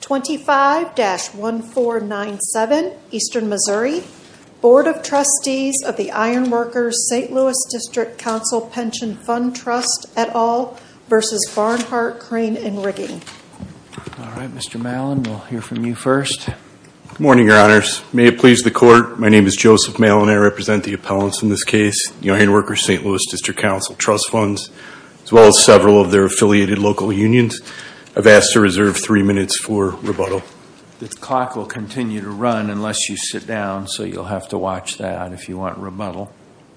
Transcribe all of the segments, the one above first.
25-1497 Eastern Missouri Board of Trustees of the Iron Workers St. Louis District Council Pension Fund Trust et al. v. Barnhart Crane & Rigging. Morning Your Honors. May it please the Court. My name is Joseph Malin. I represent the appellants in this case, the Iron Workers St. Louis District Council Trust Funds, as well as several of their affiliated local unions. I've asked to reserve three minutes for rebuttal. The clock will continue to run unless you sit down, so you'll have to watch that if you want rebuttal.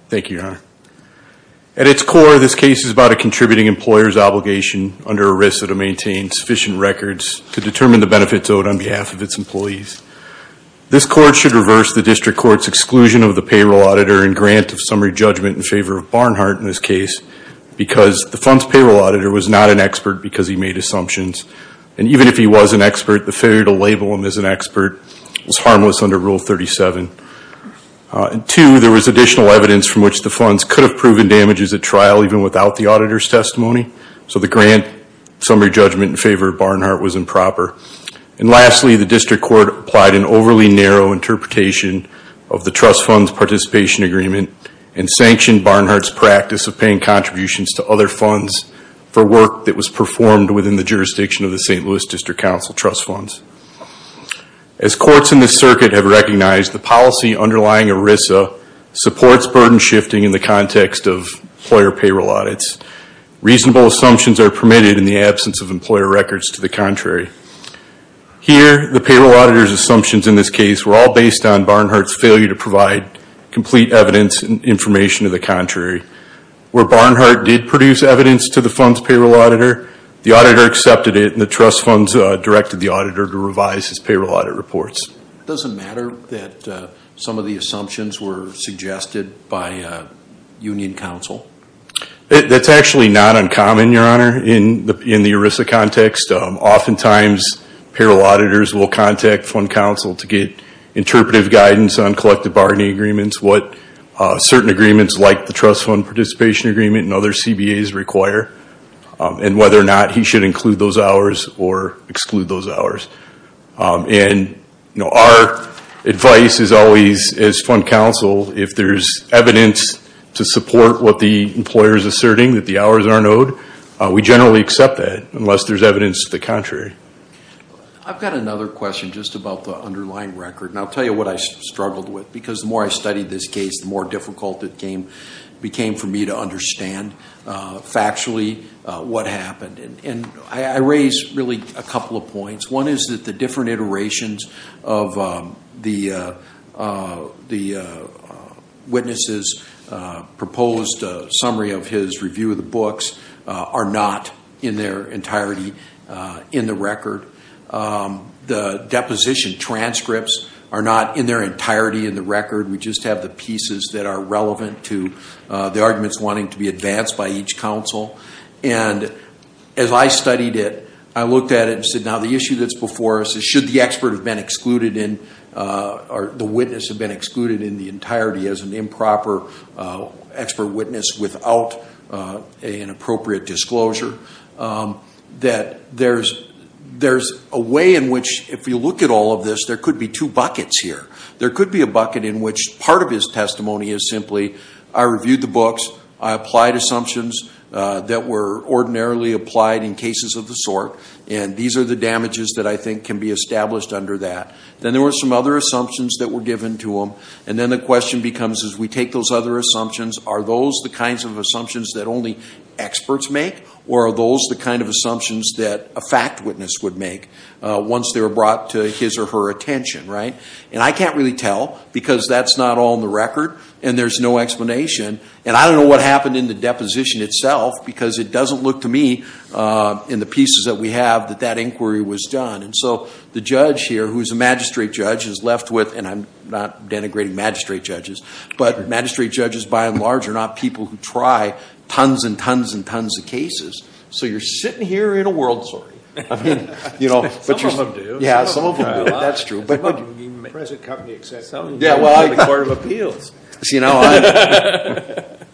Thank you, Your Honor. At its core, this case is about a contributing employer's obligation under ERISA to maintain sufficient records to determine the benefits owed on behalf of its employees. This Court should reverse the District Court's exclusion of the payroll auditor and grant of summary judgment in favor of Barnhart in this case because the fund's payroll auditor was not an expert because he made assumptions. And even if he was an expert, the failure to label him as an expert was harmless under Rule 37. Two, there was additional evidence from which the funds could have proven damages at trial even without the auditor's testimony, so the grant summary judgment in favor of Barnhart was improper. And lastly, the District Court applied an overly narrow interpretation of the Trust Funds Participation Agreement and sanctioned Barnhart's practice of paying contributions to other funds for work that was performed within the jurisdiction of the St. Louis District Council Trust Funds. As courts in this circuit have recognized, the policy underlying ERISA supports burden shifting in the context of employer payroll audits. Reasonable assumptions are permitted in the absence of employer records to the contrary. Here, the payroll auditor's assumptions in this case were all based on Barnhart's failure to provide complete evidence and information to the contrary. Where Barnhart did produce evidence to the fund's payroll auditor, the auditor accepted it and the Trust Funds directed the auditor to revise his payroll audit reports. It doesn't matter that some of the assumptions were suggested by Union Council? That's actually not uncommon, Your Honor, in the ERISA context. Oftentimes, payroll auditors will contact Fund Council to get interpretive guidance on collective bargaining agreements, what certain agreements like the Trust Fund Participation Agreement and other CBAs require, and whether or not he should include those hours or exclude those hours. Our advice is always, as Fund Council, if there's evidence to support what the employer is asserting, that the hours aren't owed, we generally accept that unless there's evidence to the contrary. I've got another question just about the underlying record. I'll answer it. The more I studied this case, the more difficult it became for me to understand factually what happened. I raised a couple of points. One is that the different iterations of the witness's proposed summary of his review of the books are not in their entirety in the record. The deposition transcripts are not in their entirety in the record. We just have the pieces that are relevant to the arguments wanting to be advanced by each council. As I studied it, I looked at it and said, now the issue that's before us is should the expert have been excluded in or the witness have been excluded in the entirety as an improper expert witness without an appropriate disclosure? There's a way in which, if you look at all of this, there could be two buckets here. There could be a bucket in which part of his testimony is simply, I reviewed the books, I applied assumptions that were ordinarily applied in cases of the sort, and these are the damages that I think can be established under that. Then there were some other assumptions that were given to him, and then the question becomes, as we take those other assumptions, are those the kinds of assumptions that only experts make, or are those the kind of assumptions that a were brought to his or her attention? I can't really tell because that's not all in the record and there's no explanation. I don't know what happened in the deposition itself because it doesn't look to me in the pieces that we have that that inquiry was done. The judge here, who's a magistrate judge, is left with, and I'm not denigrating magistrate judges, but magistrate judges by and large are not people who try tons and tons and tons of cases. You're right, some of them do. Yeah, some of them do, that's true. Some of them are in the present company, except some of them are in the Court of Appeals. See, now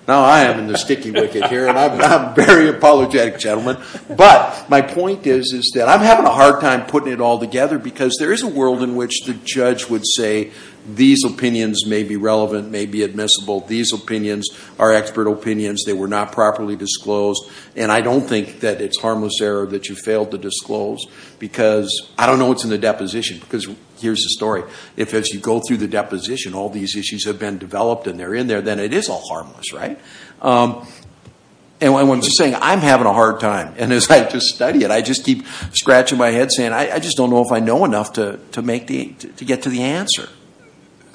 I am in the sticky wicket here, and I'm a very apologetic gentleman, but my point is is that I'm having a hard time putting it all together because there is a world in which the judge would say these opinions may be relevant, may be admissible, these opinions are expert opinions, they were not properly disclosed, and I don't think that it's harmless error that you failed to disclose because, I don't know what's in the deposition, because here's the story, if as you go through the deposition all these issues have been developed and they're in there, then it is all harmless, right? And what I'm saying, I'm having a hard time, and as I just study it, I just keep scratching my head saying I just don't know if I know enough to make the, to get to the answer.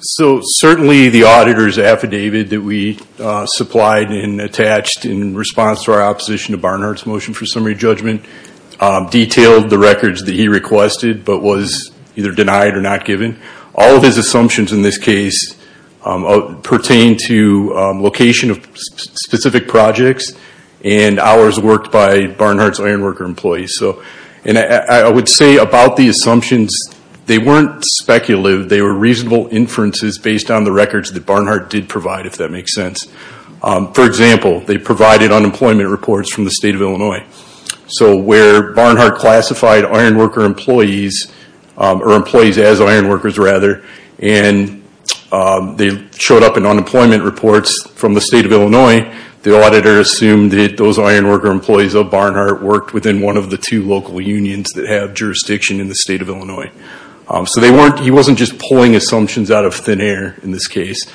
So certainly the auditor's affidavit that we supplied and attached in response to our opposition to Barnhart's motion for summary judgment detailed the records that he requested but was either denied or not given. All of his assumptions in this case pertain to location of specific projects and hours worked by Barnhart's ironworker employees. So, and I would say about the assumptions, they weren't speculative, they were reasonable inferences based on the records that Barnhart did provide, if that makes sense. For example, they provided unemployment reports from the state of Illinois. So where Barnhart classified ironworker employees, or employees as ironworkers rather, and they showed up in unemployment reports from the state of Illinois, the auditor assumed that those ironworker employees of Barnhart worked within one of the two local unions that have jurisdiction in the state of Illinois. So they weren't, he wasn't just pulling assumptions out of thin air in this case.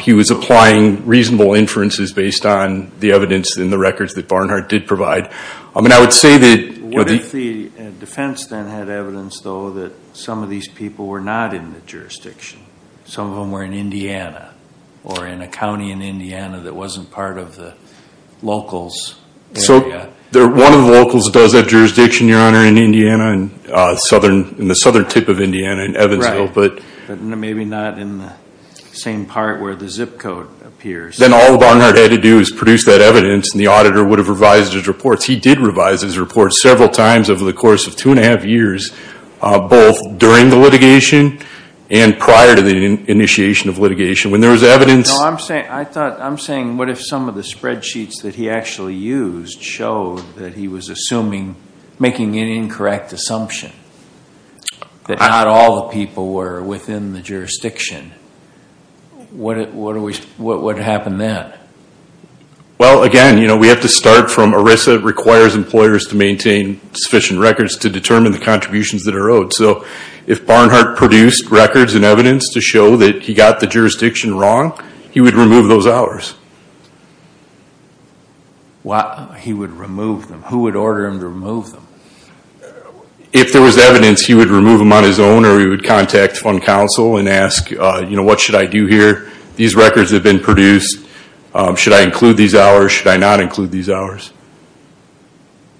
He was applying reasonable inferences based on the evidence in the records that Barnhart did provide. I mean, I would say that... What if the defense then had evidence, though, that some of these people were not in the jurisdiction? Some of them were in Indiana, or in a county in Indiana that wasn't part of the locals. So one of the locals does have jurisdiction, Your Honor, in Indiana, in southern, in the southern tip of Indiana, in Evansville, but... But maybe not in the same part where the zip code appears. Then all Barnhart had to do is produce that evidence, and the auditor would have revised his reports. He did revise his reports several times over the course of two and a half years, both during the litigation and prior to the initiation of litigation. When there was evidence... No, I'm saying, I thought, I'm saying, what if some of the spreadsheets that he actually used showed that he was assuming, making an incorrect assumption, that not all the people were within the jurisdiction? What would happen then? Well, again, you know, we have to start from ERISA requires employers to maintain sufficient records to determine the contributions that are owed. So if Barnhart produced records and evidence to show that he got the jurisdiction wrong, he would remove those hours. Why he would remove them? Who would order him to remove them? If there was evidence, he would remove them on his own, or he would contact fund counsel and ask, you know, what should I do here? These records have been produced. Should I include these hours? Should I not include these hours?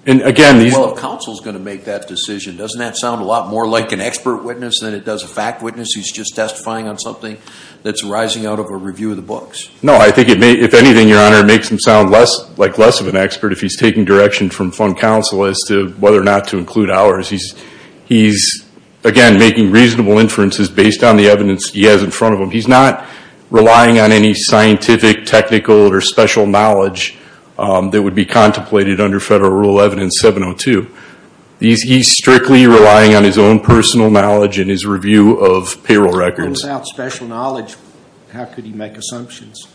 And again... Well, if counsel's going to make that decision, doesn't that sound a lot more like an expert witness than it does a fact witness who's just testifying on something that's arising out of a review of the books? No, I think it may, if anything, Your Honor, it makes him sound less, like, less of an expert if he's taking direction from fund counsel as to whether or not to include hours. He's, again, making reasonable inferences based on the evidence he has in front of him. He's not relying on any scientific, technical, or special knowledge that would be contemplated under Federal Rule 11 and 702. He's strictly relying on his own personal knowledge and his review of payroll records. What about special knowledge? How could he make assumptions?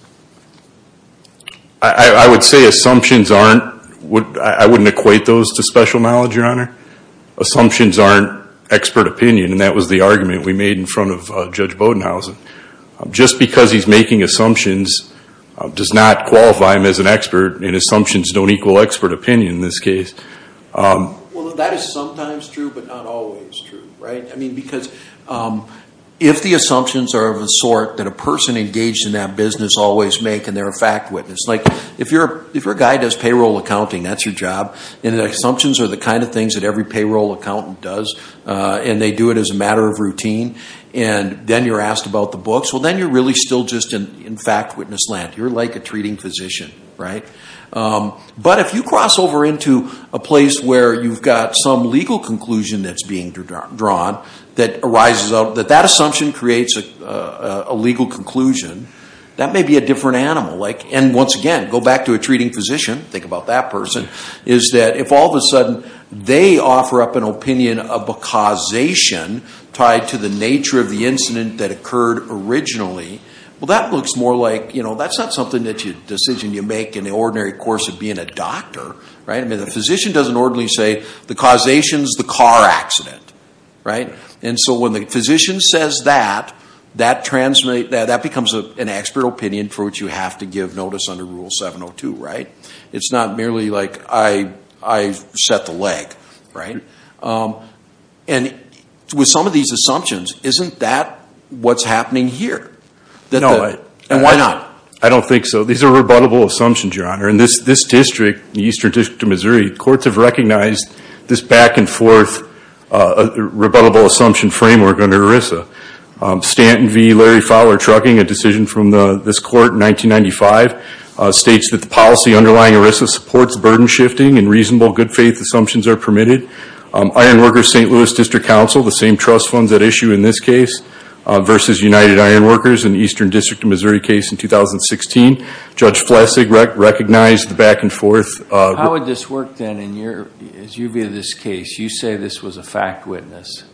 I would say assumptions aren't... I wouldn't equate those to special knowledge, Your Honor. Assumptions aren't expert opinion, and that was the argument we made in front of Judge Bodenhausen. Just because he's making assumptions does not qualify him as an expert, and assumptions don't equal expert opinion in this case. Well, that is sometimes true, but not always true, right? I mean, because if the assumptions are of a sort that a person engaged in that business always make, and they're a fact witness, like, if you're a guy who does payroll accounting, that's your job, and assumptions are the kind of things that every payroll accountant does, and they do it as a matter of routine, and then you're asked about the books, well, then you're really still just in fact witness land. You're like a treating physician, right? But if you cross over into a place where you've got some legal conclusion that's being drawn that arises out that that assumption creates a legal conclusion, that may be a different animal. And once again, go back to a treating physician, think about that person, is that if all of a sudden they offer up an opinion of a causation tied to the nature of the incident that occurred originally, well, that looks more like, you know, that's not something that's a decision you make in the ordinary course of being a doctor, right? I mean, the physician doesn't ordinarily say, the causation's the car accident, right? And so when the physician says that, that becomes an expert opinion for what you have to give notice under Rule 702, right? It's not merely like I set the leg, right? And with some of these assumptions, isn't that what's happening here? And why not? I don't think so. These are rebuttable assumptions, Your Honor. In this district, the Eastern District of Missouri, courts have recognized this back-and-forth rebuttable assumption framework under ERISA. Stanton v. Larry Fowler Trucking, a decision from this court in 1995, states that the policy underlying ERISA supports burden shifting and reasonable good-faith assumptions are permitted. Ironworkers St. Louis District Council, the same trust funds at issue in this case, versus United Ironworkers in the Eastern District of Missouri case in 2016. Judge Flesig recognized the back-and-forth... How would this work then, as you view this case? You say this was a fact witness.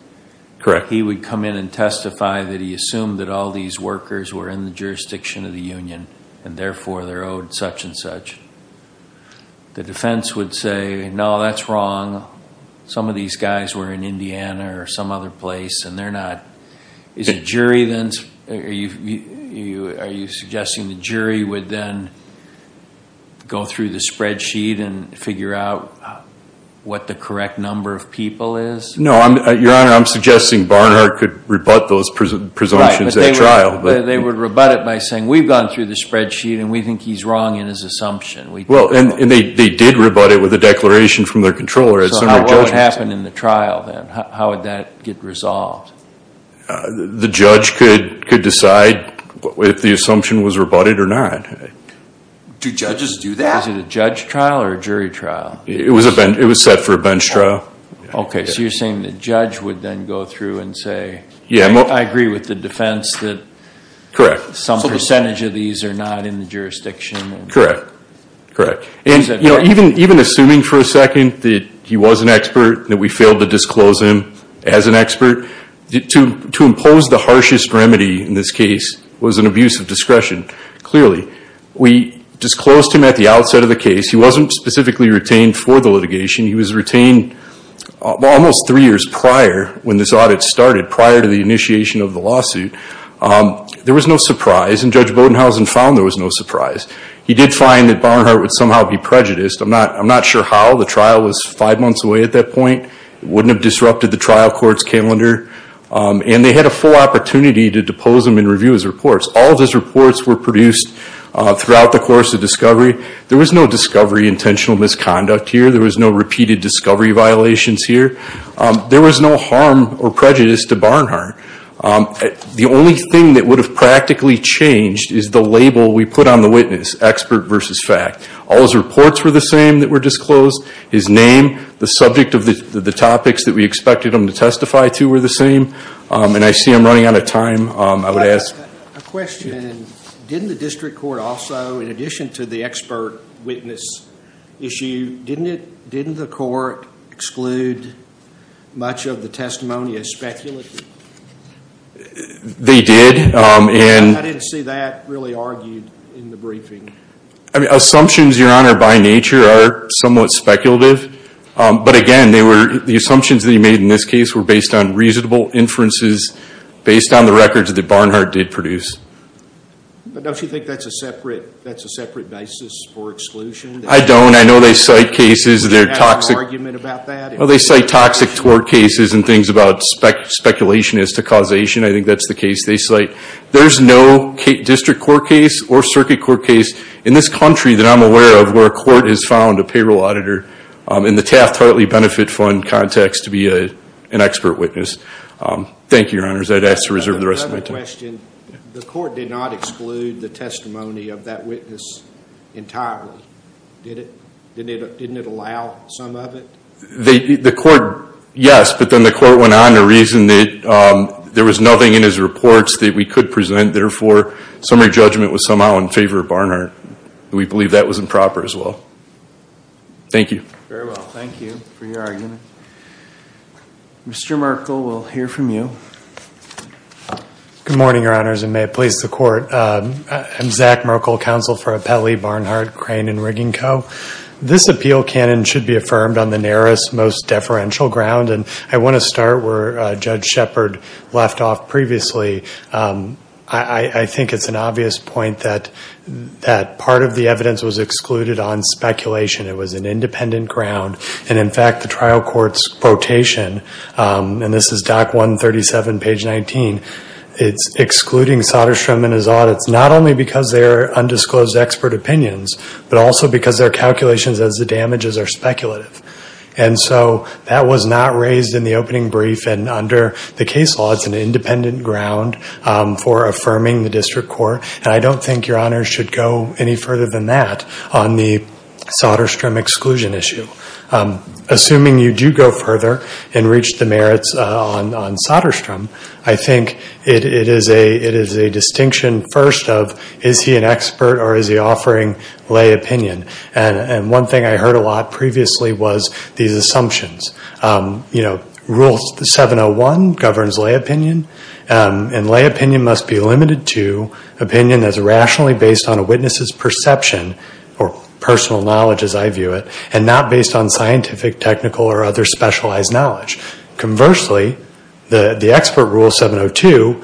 Correct. He would come in and testify that he assumed that all these workers were in the jurisdiction of the union, and therefore, they're owed such and such. The defense would say, no, that's wrong. Some of these guys were in Indiana or some other place, and they're not. Are you suggesting the jury would then go through the spreadsheet and figure out what the correct number of people is? No, Your Honor, I'm suggesting Barnhart could rebut those presumptions at trial. They would rebut it by saying, we've gone through the spreadsheet, and we think he's wrong in his assumption. Well, and they did rebut it with a declaration from their controller. So what would happen in the trial then? How would that get resolved? The judge could decide if the assumption was rebutted or not. Do judges do that? Is it a judge trial or a jury trial? It was set for a bench trial. OK, so you're saying the judge would then go through and say, I agree with the defense that some percentage of these are not in the jurisdiction. Correct. And even assuming for a second that he was an expert, that we failed to disclose him as an expert, to impose the harshest remedy in this case was an abuse of discretion, clearly. We disclosed him at the outset of the case. He wasn't specifically retained for the litigation. He was retained almost three years prior when this audit started, prior to the initiation of the lawsuit. There was no surprise, and Judge Bodenhausen found there was no surprise. He did find that Barnhart would somehow be prejudiced. I'm not sure how. The trial was five months away at that point. It wouldn't have disrupted the trial court's calendar. And they had a full opportunity to depose him and review his reports. All of his reports were produced throughout the course of discovery. There was no discovery intentional misconduct here. There was no repeated discovery violations here. There was no harm or prejudice to Barnhart. The only thing that would have practically changed is the label we put on the witness, expert versus fact. All his reports were the same that were disclosed. His name, the subject of the topics that we expected him to testify to were the same, and I see I'm running out of time. I would ask a question. Didn't the district court also, in addition to the expert witness issue, didn't the court exclude much of the testimony as speculative? They did. I didn't see that really argued in the briefing. Assumptions, Your Honor, by nature are somewhat speculative. But again, the assumptions that he made in this case were based on reasonable inferences, based on the records that Barnhart did produce. But don't you think that's a separate basis for exclusion? I don't. I know they cite cases. They're toxic. Do you have an argument about that? Well, they cite toxic tort cases and things about speculation as to causation. I think that's the case they cite. There's no district court case or circuit court case in this country that I'm aware of where a court has found a payroll auditor in the Taft-Hartley Benefit Fund context to be an expert witness. Thank you, Your Honor. I'd ask to reserve the rest of my time. The court did not exclude the testimony of that witness entirely, did it? Didn't it allow some of it? The court, yes. But then the court went on to reason that there was nothing in his reports that we could present. Therefore, summary judgment was somehow in favor of Barnhart. We believe that was improper as well. Thank you. Very well. Thank you for your argument. Mr. Merkle, we'll hear from you. Good morning, Your Honors, and may it please the court. I'm Zach Merkle, Counsel for Appellee Barnhart, Crane & Rigging Co. This appeal canon should be affirmed on the narrowest, most deferential ground. And I want to start where Judge Shepard left off previously. I think it's an obvious point that part of the evidence was excluded on speculation. It was an independent ground. And in fact, the trial court's quotation, and this is Doc 137, page 19, it's excluding Soderstrom in his audits, not only because they are undisclosed expert opinions, but also because their calculations as the damages are speculative. And so that was not raised in the opening brief. And under the case law, it's an independent ground for affirming the district court. And I don't think Your Honors should go any further than that on the Soderstrom exclusion issue. Assuming you do go further and reach the merits on Soderstrom, I think it is a distinction first of, is he an expert or is he offering lay opinion? And one thing I heard a lot previously was these assumptions. You know, Rule 701 governs lay opinion. And lay opinion must be limited to opinion that's rationally based on a witness's perception or personal knowledge, as I view it. And not based on scientific, technical, or other specialized knowledge. Conversely, the expert rule, 702,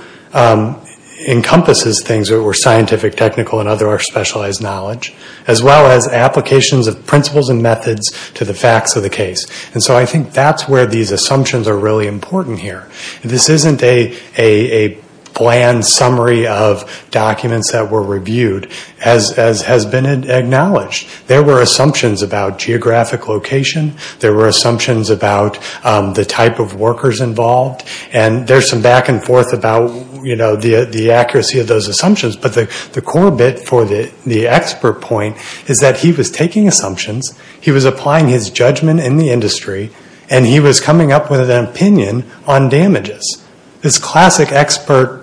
encompasses things that were scientific, technical, and other specialized knowledge. As well as applications of principles and methods to the facts of the case. And so I think that's where these assumptions are really important here. This isn't a bland summary of documents that were reviewed, as has been acknowledged. There were assumptions about geographic location. There were assumptions about the type of workers involved. And there's some back and forth about, you know, the accuracy of those assumptions. But the core bit for the expert point is that he was taking assumptions. He was applying his judgment in the industry. And he was coming up with an opinion on damages. This classic expert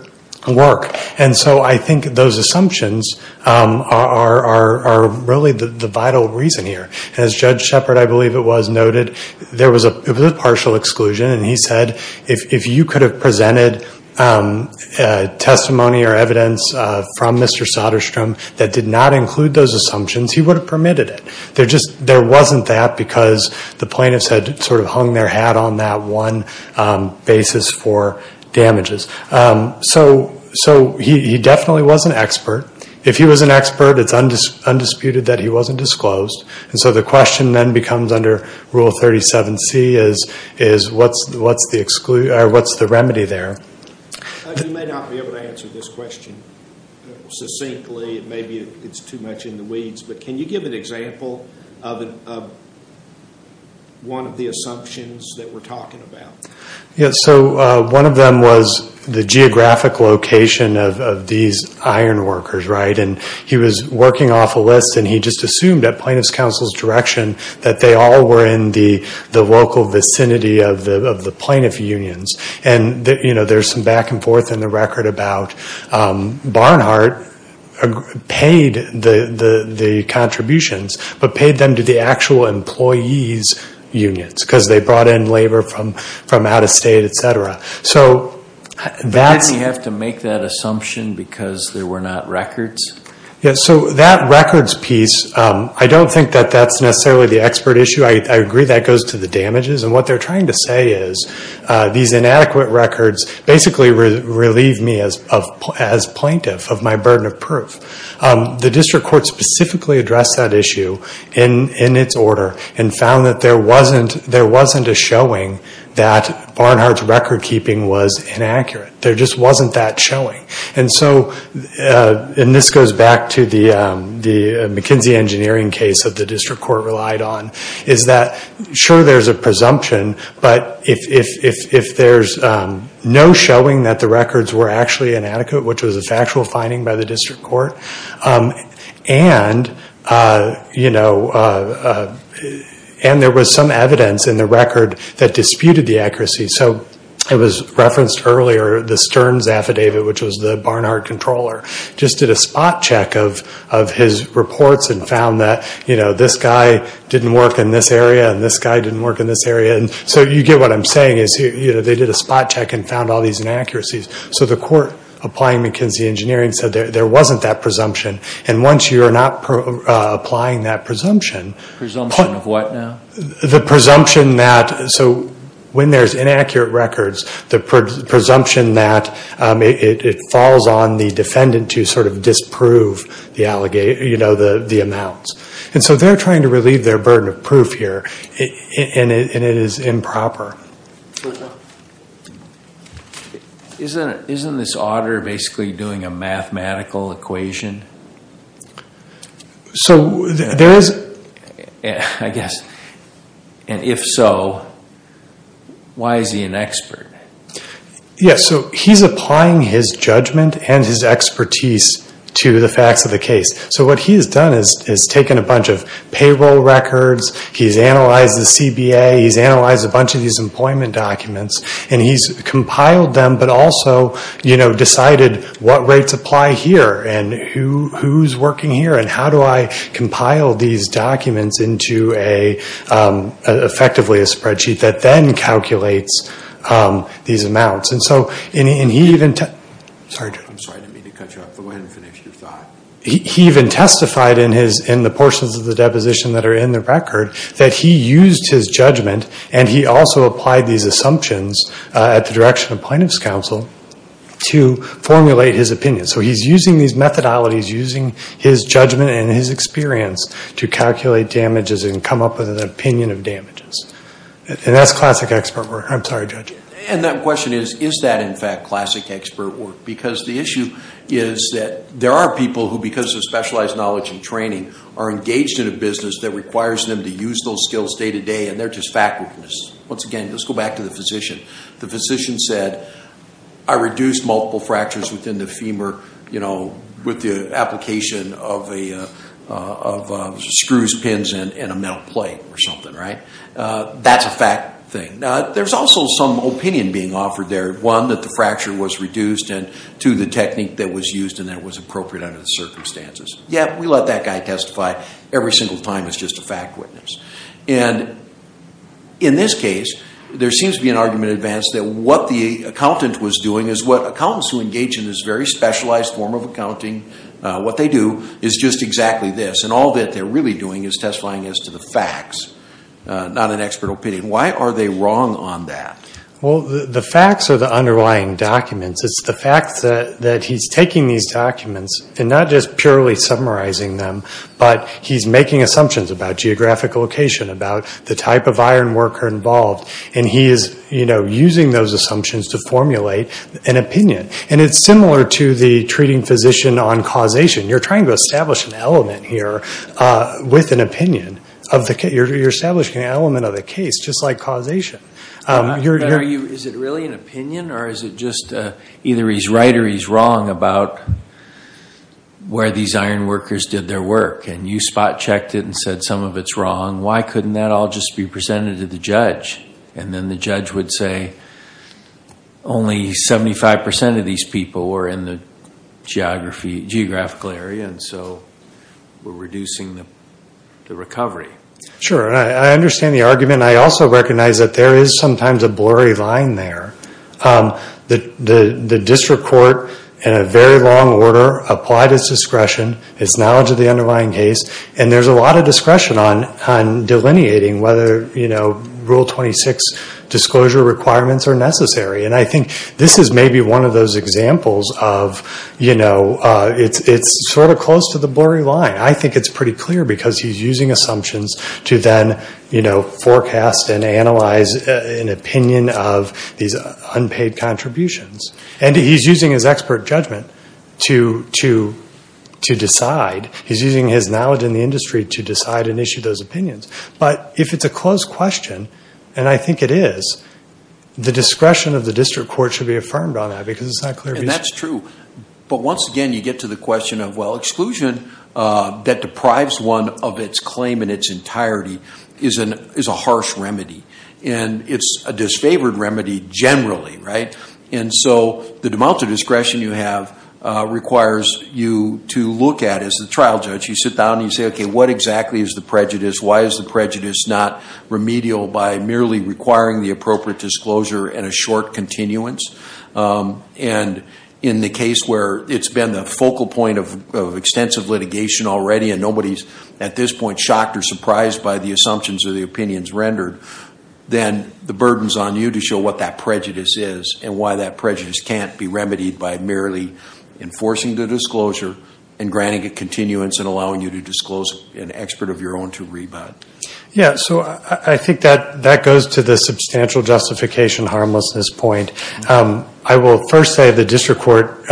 work. And so I think those assumptions are really the vital reason here. As Judge Shepard, I believe it was, noted, there was a partial exclusion. And he said, if you could have presented testimony or evidence from Mr. Soderstrom that did not include those assumptions, he would have permitted it. There just, there wasn't that because the plaintiffs had sort of hung their hat on that one basis for damages. So he definitely was an expert. If he was an expert, it's undisputed that he wasn't disclosed. And so the question then becomes under Rule 37C is, what's the remedy there? You may not be able to answer this question succinctly. It may be it's too much in the weeds. But can you give an example of one of the assumptions that we're talking about? So one of them was the geographic location of these iron workers, right? And he was working off a list. And he just assumed, at Plaintiff's Counsel's direction, that they all were in the local vicinity of the plaintiff unions. And there's some back and forth in the record about Barnhart paid the contributions, but paid them to the actual employees' unions. Because they brought in labor from out-of-state, et cetera. So that's... But didn't he have to make that assumption because there were not records? Yeah, so that records piece, I don't think that that's necessarily the expert issue. I agree that goes to the damages. And what they're trying to say is, these inadequate records basically relieve me as plaintiff of my burden of proof. The district court specifically addressed that issue in its order and found that there wasn't a showing that Barnhart's record-keeping was inaccurate. There just wasn't that showing. And so, and this goes back to the McKinsey Engineering case that the district court relied on, is that, sure, there's a presumption. But if there's no showing that the records were actually inadequate, which was a factual finding by the district court, and there was some evidence in the record that disputed the accuracy. So it was referenced earlier, the Stearns affidavit, which was the Barnhart controller, just did a spot check of his reports and found that this guy didn't work in this area and this guy didn't work in this area. And so you get what I'm saying is, they did a spot check and found all these inaccuracies. So the court applying McKinsey Engineering said there wasn't that presumption. And once you're not applying that presumption. Presumption of what now? The presumption that, so when there's inaccurate records, the presumption that it falls on the defendant to sort of disprove the amounts. And so they're trying to relieve their burden of proof here and it is improper. Isn't this auditor basically doing a mathematical equation? So there is. I guess. And if so, why is he an expert? Yes, so he's applying his judgment and his expertise to the facts of the case. So what he has done is taken a bunch of payroll records. He's analyzed the CBA. He's analyzed a bunch of these employment documents. And he's compiled them but also decided what rates apply here and who's working here. And how do I compile these documents into effectively a spreadsheet that then calculates these amounts. And so he even testified in the portions of the deposition that are in the record that he used his judgment and he also applied these assumptions at the direction of plaintiff's counsel to formulate his opinion. So he's using these methodologies, using his judgment and his experience to calculate damages and come up with an opinion of damages. And that's classic expert work. I'm sorry, Judge. And that question is, is that in fact classic expert work? Because the issue is that there are people who, because of specialized knowledge and training, are engaged in a business that requires them to use those skills day-to-day and they're just fact-witness. Once again, let's go back to the physician. The physician said, I reduced multiple fractures within the femur with the application of screws, pins, and a metal plate or something, right? That's a fact thing. There's also some opinion being offered there. One, that the fracture was reduced. And two, the technique that was used and that was appropriate under the circumstances. Yeah, we let that guy testify every single time as just a fact witness. And in this case, there seems to be an argument advanced that what the accountant was doing is what accountants who engage in this very specialized form of accounting, what they do is just exactly this. And all that they're really doing is testifying as to the facts, not an expert opinion. Why are they wrong on that? Well, the facts are the underlying documents. It's the fact that he's taking these documents and not just purely summarizing them, but he's making assumptions about geographic location, about the type of iron worker involved. And he is using those assumptions to formulate an opinion. And it's similar to the treating physician on causation. You're trying to establish an element here with an opinion. You're establishing an element of the case just like causation. But is it really an opinion, or is it just either he's right or he's wrong about where these iron workers did their work? And you spot checked it and said some of it's wrong. Why couldn't that all just be presented to the judge? And then the judge would say, only 75% of these people were in the geographical area. And so we're reducing the recovery. Sure. I understand the argument. I also recognize that there is sometimes a blurry line there. The district court, in a very long order, applied its discretion, its knowledge of the underlying case. And there's a lot of discretion on delineating whether Rule 26 disclosure requirements are necessary. And I think this is maybe one of those examples of it's sort of close to the blurry line. I think it's pretty clear because he's using assumptions to then forecast and analyze an opinion of these unpaid contributions. And he's using his expert judgment to decide. He's using his knowledge in the industry to decide and issue those opinions. But if it's a close question, and I think it is, the discretion of the district court should be affirmed on that because it's not clear. And that's true. But once again, you get to the question of, well, exclusion that deprives one of its claim in its entirety is a harsh remedy. And it's a disfavored remedy generally, right? And so the amount of discretion you have requires you to look at, as the trial judge, you sit down and you say, OK, what exactly is the prejudice? Why is the prejudice not remedial by merely requiring the appropriate disclosure and a short continuance? And in the case where it's been the focal point of extensive litigation already, and nobody's at this point shocked or surprised by the assumptions or the opinions rendered, then the burden's on you to show what that prejudice is and why that prejudice can't be remedied by merely enforcing the disclosure and granting a continuance and allowing you to disclose an expert of your own to rebut. Yeah. So I think that goes to the substantial justification harmlessness point. I will first say the district court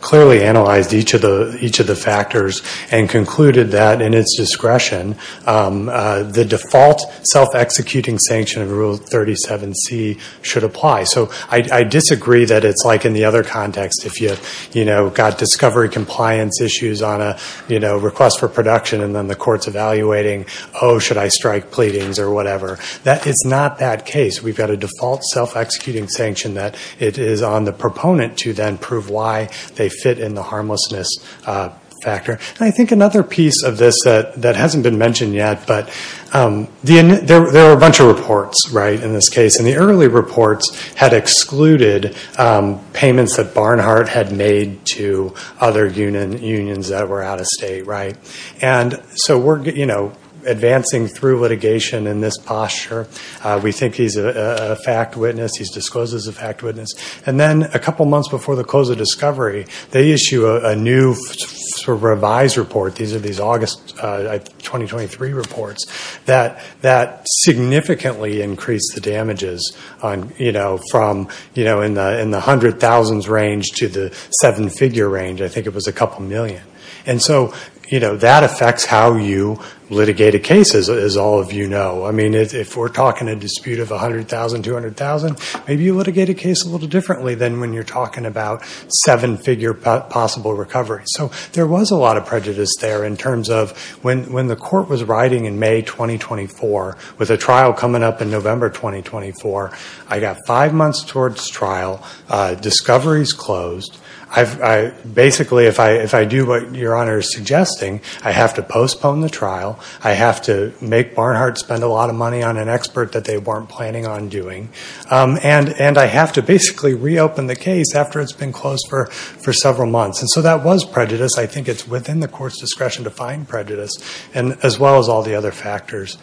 clearly analyzed each of the factors and concluded that, in its discretion, the default self-executing sanction of Rule 37c should apply. So I disagree that it's like in the other context. If you've got discovery compliance issues on a request for production and then the court's evaluating, oh, should I strike pleadings or whatever, that is not that case. We've got a default self-executing sanction that it is on the proponent to then prove why they fit in the harmlessness factor. And I think another piece of this that hasn't been mentioned yet, but there are a bunch of reports in this case. And the early reports had excluded payments that Barnhart had made to other unions that were out of state. And so we're advancing through litigation in this posture. We think he's a fact witness. He discloses a fact witness. And then a couple months before the close of discovery, they issue a new revised report. These are these August 2023 reports that significantly increase the damages from in the 100,000s range to the seven-figure range. I think it was a couple million. And so that affects how you litigate a case, as all of you know. I mean, if we're talking a dispute of 100,000, 200,000, maybe you litigate a case a little differently than when you're talking about seven-figure possible recovery. So there was a lot of prejudice there in terms of, when the court was writing in May 2024, with a trial coming up in November 2024, I got five months towards trial, discoveries closed. I basically, if I do what Your Honor is suggesting, I have to postpone the trial. I have to make Barnhart spend a lot of money on an expert that they weren't planning on doing. And I have to basically reopen the case after it's been closed for several months. And so that was prejudice. I think it's within the court's discretion to find prejudice, and as well as all the other factors.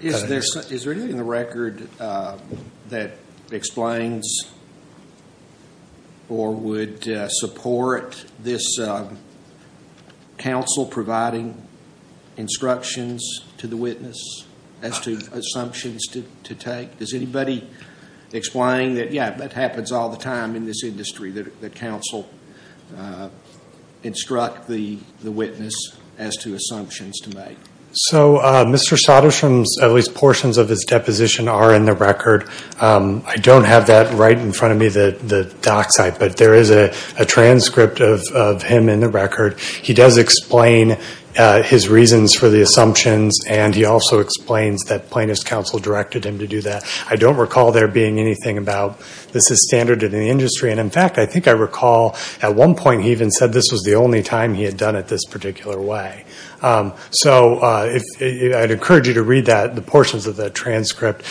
Is there anything in the record that explains or would support this counsel providing instructions to the witness as to assumptions to take? Does anybody explain that, yeah, that happens all the time in this industry, that counsel instruct the witness as to assumptions to make? So Mr. Sodershum's, at least portions of his deposition, are in the record. I don't have that right in front of me, the doc site, but there is a transcript of him in the record. He does explain his reasons for the assumptions, and he also explains that plaintiff's counsel directed him to do that. I don't recall there being anything about, this is standard in the industry. And in fact, I think I recall at one point, he even said this was the only time he had done it this particular way. So I'd encourage you to read that, the portions of the transcript.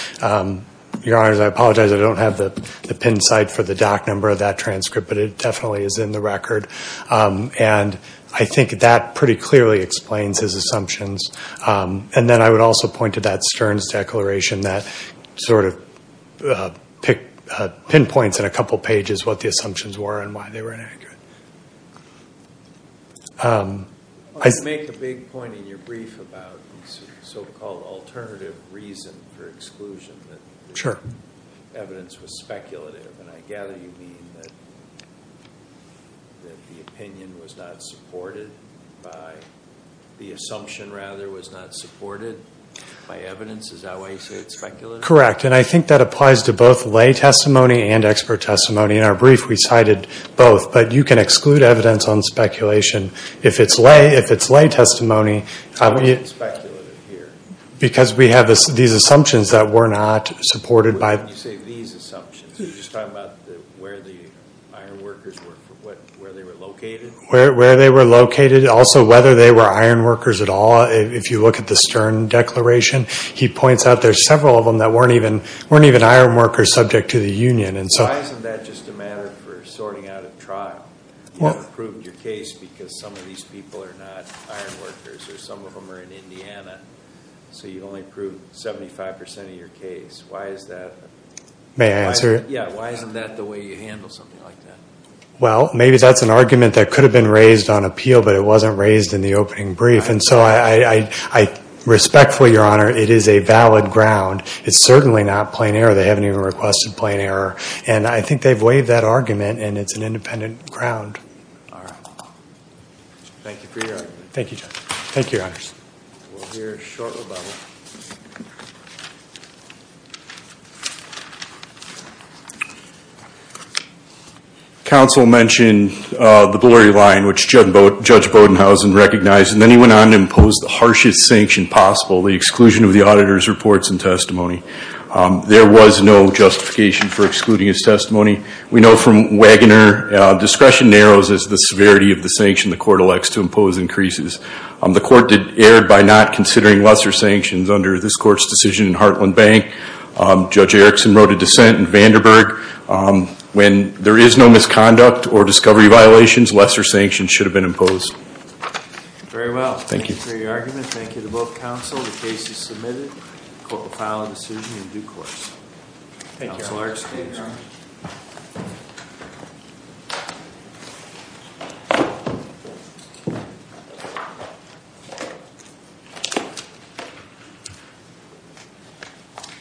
Your honors, I apologize, I don't have the pin site for the doc number of that transcript, but it definitely is in the record. And I think that pretty clearly explains his assumptions. And then I would also point to that Stearns declaration that sort of pinpoints in a couple pages what the assumptions were and why they were inaccurate. I make a big point in your brief about this so-called alternative reason for exclusion. That the evidence was speculative. And I gather you mean that the opinion was not supported by the assumption rather was not supported by evidence. Is that why you say it's speculative? Correct. And I think that applies to both lay testimony and expert testimony. In our brief, we cited both. But you can exclude evidence on speculation. If it's lay, if it's lay testimony... Why is it speculative here? Because we have these assumptions that were not supported by... When you say these assumptions, you're just talking about where the iron workers were, where they were located? Where they were located, also whether they were iron workers at all. If you look at the Stern declaration, he points out there's several of them that weren't even iron workers subject to the union. Why isn't that just a matter for sorting out a trial? You haven't proven your case because some of these people are not iron workers, or some of them are in Indiana. So you only proved 75% of your case. Why is that? May I answer it? Yeah. Why isn't that the way you handle something like that? Well, maybe that's an argument that could have been raised on appeal, but it wasn't raised in the opening brief. And so I respectfully, Your Honor, it is a valid ground. It's certainly not plain error. They haven't even requested plain error. And I think they've waived that argument, and it's an independent ground. All right. Thank you for your argument. Thank you, Judge. Thank you, Your Honors. We'll hear a short rebuttal. Counsel mentioned the blurry line, which Judge Bodenhausen recognized, and then he went on to impose the harshest sanction possible, the exclusion of the auditor's reports and testimony. There was no justification for excluding his testimony. We know from Wagoner, discretion narrows as the severity of the sanction the court elects to impose increases. The court erred by not considering lesser sanctions under this court's decision in Heartland Bank. Judge Erickson wrote a dissent in Vanderburg. When there is no misconduct or discovery violations, lesser sanctions should have been imposed. Very well. Thank you. Thank you for your argument. Thank you to both counsel. The case is submitted. The court will file a decision in due course. Thank you, Your Honors. Thank you, Your Honor.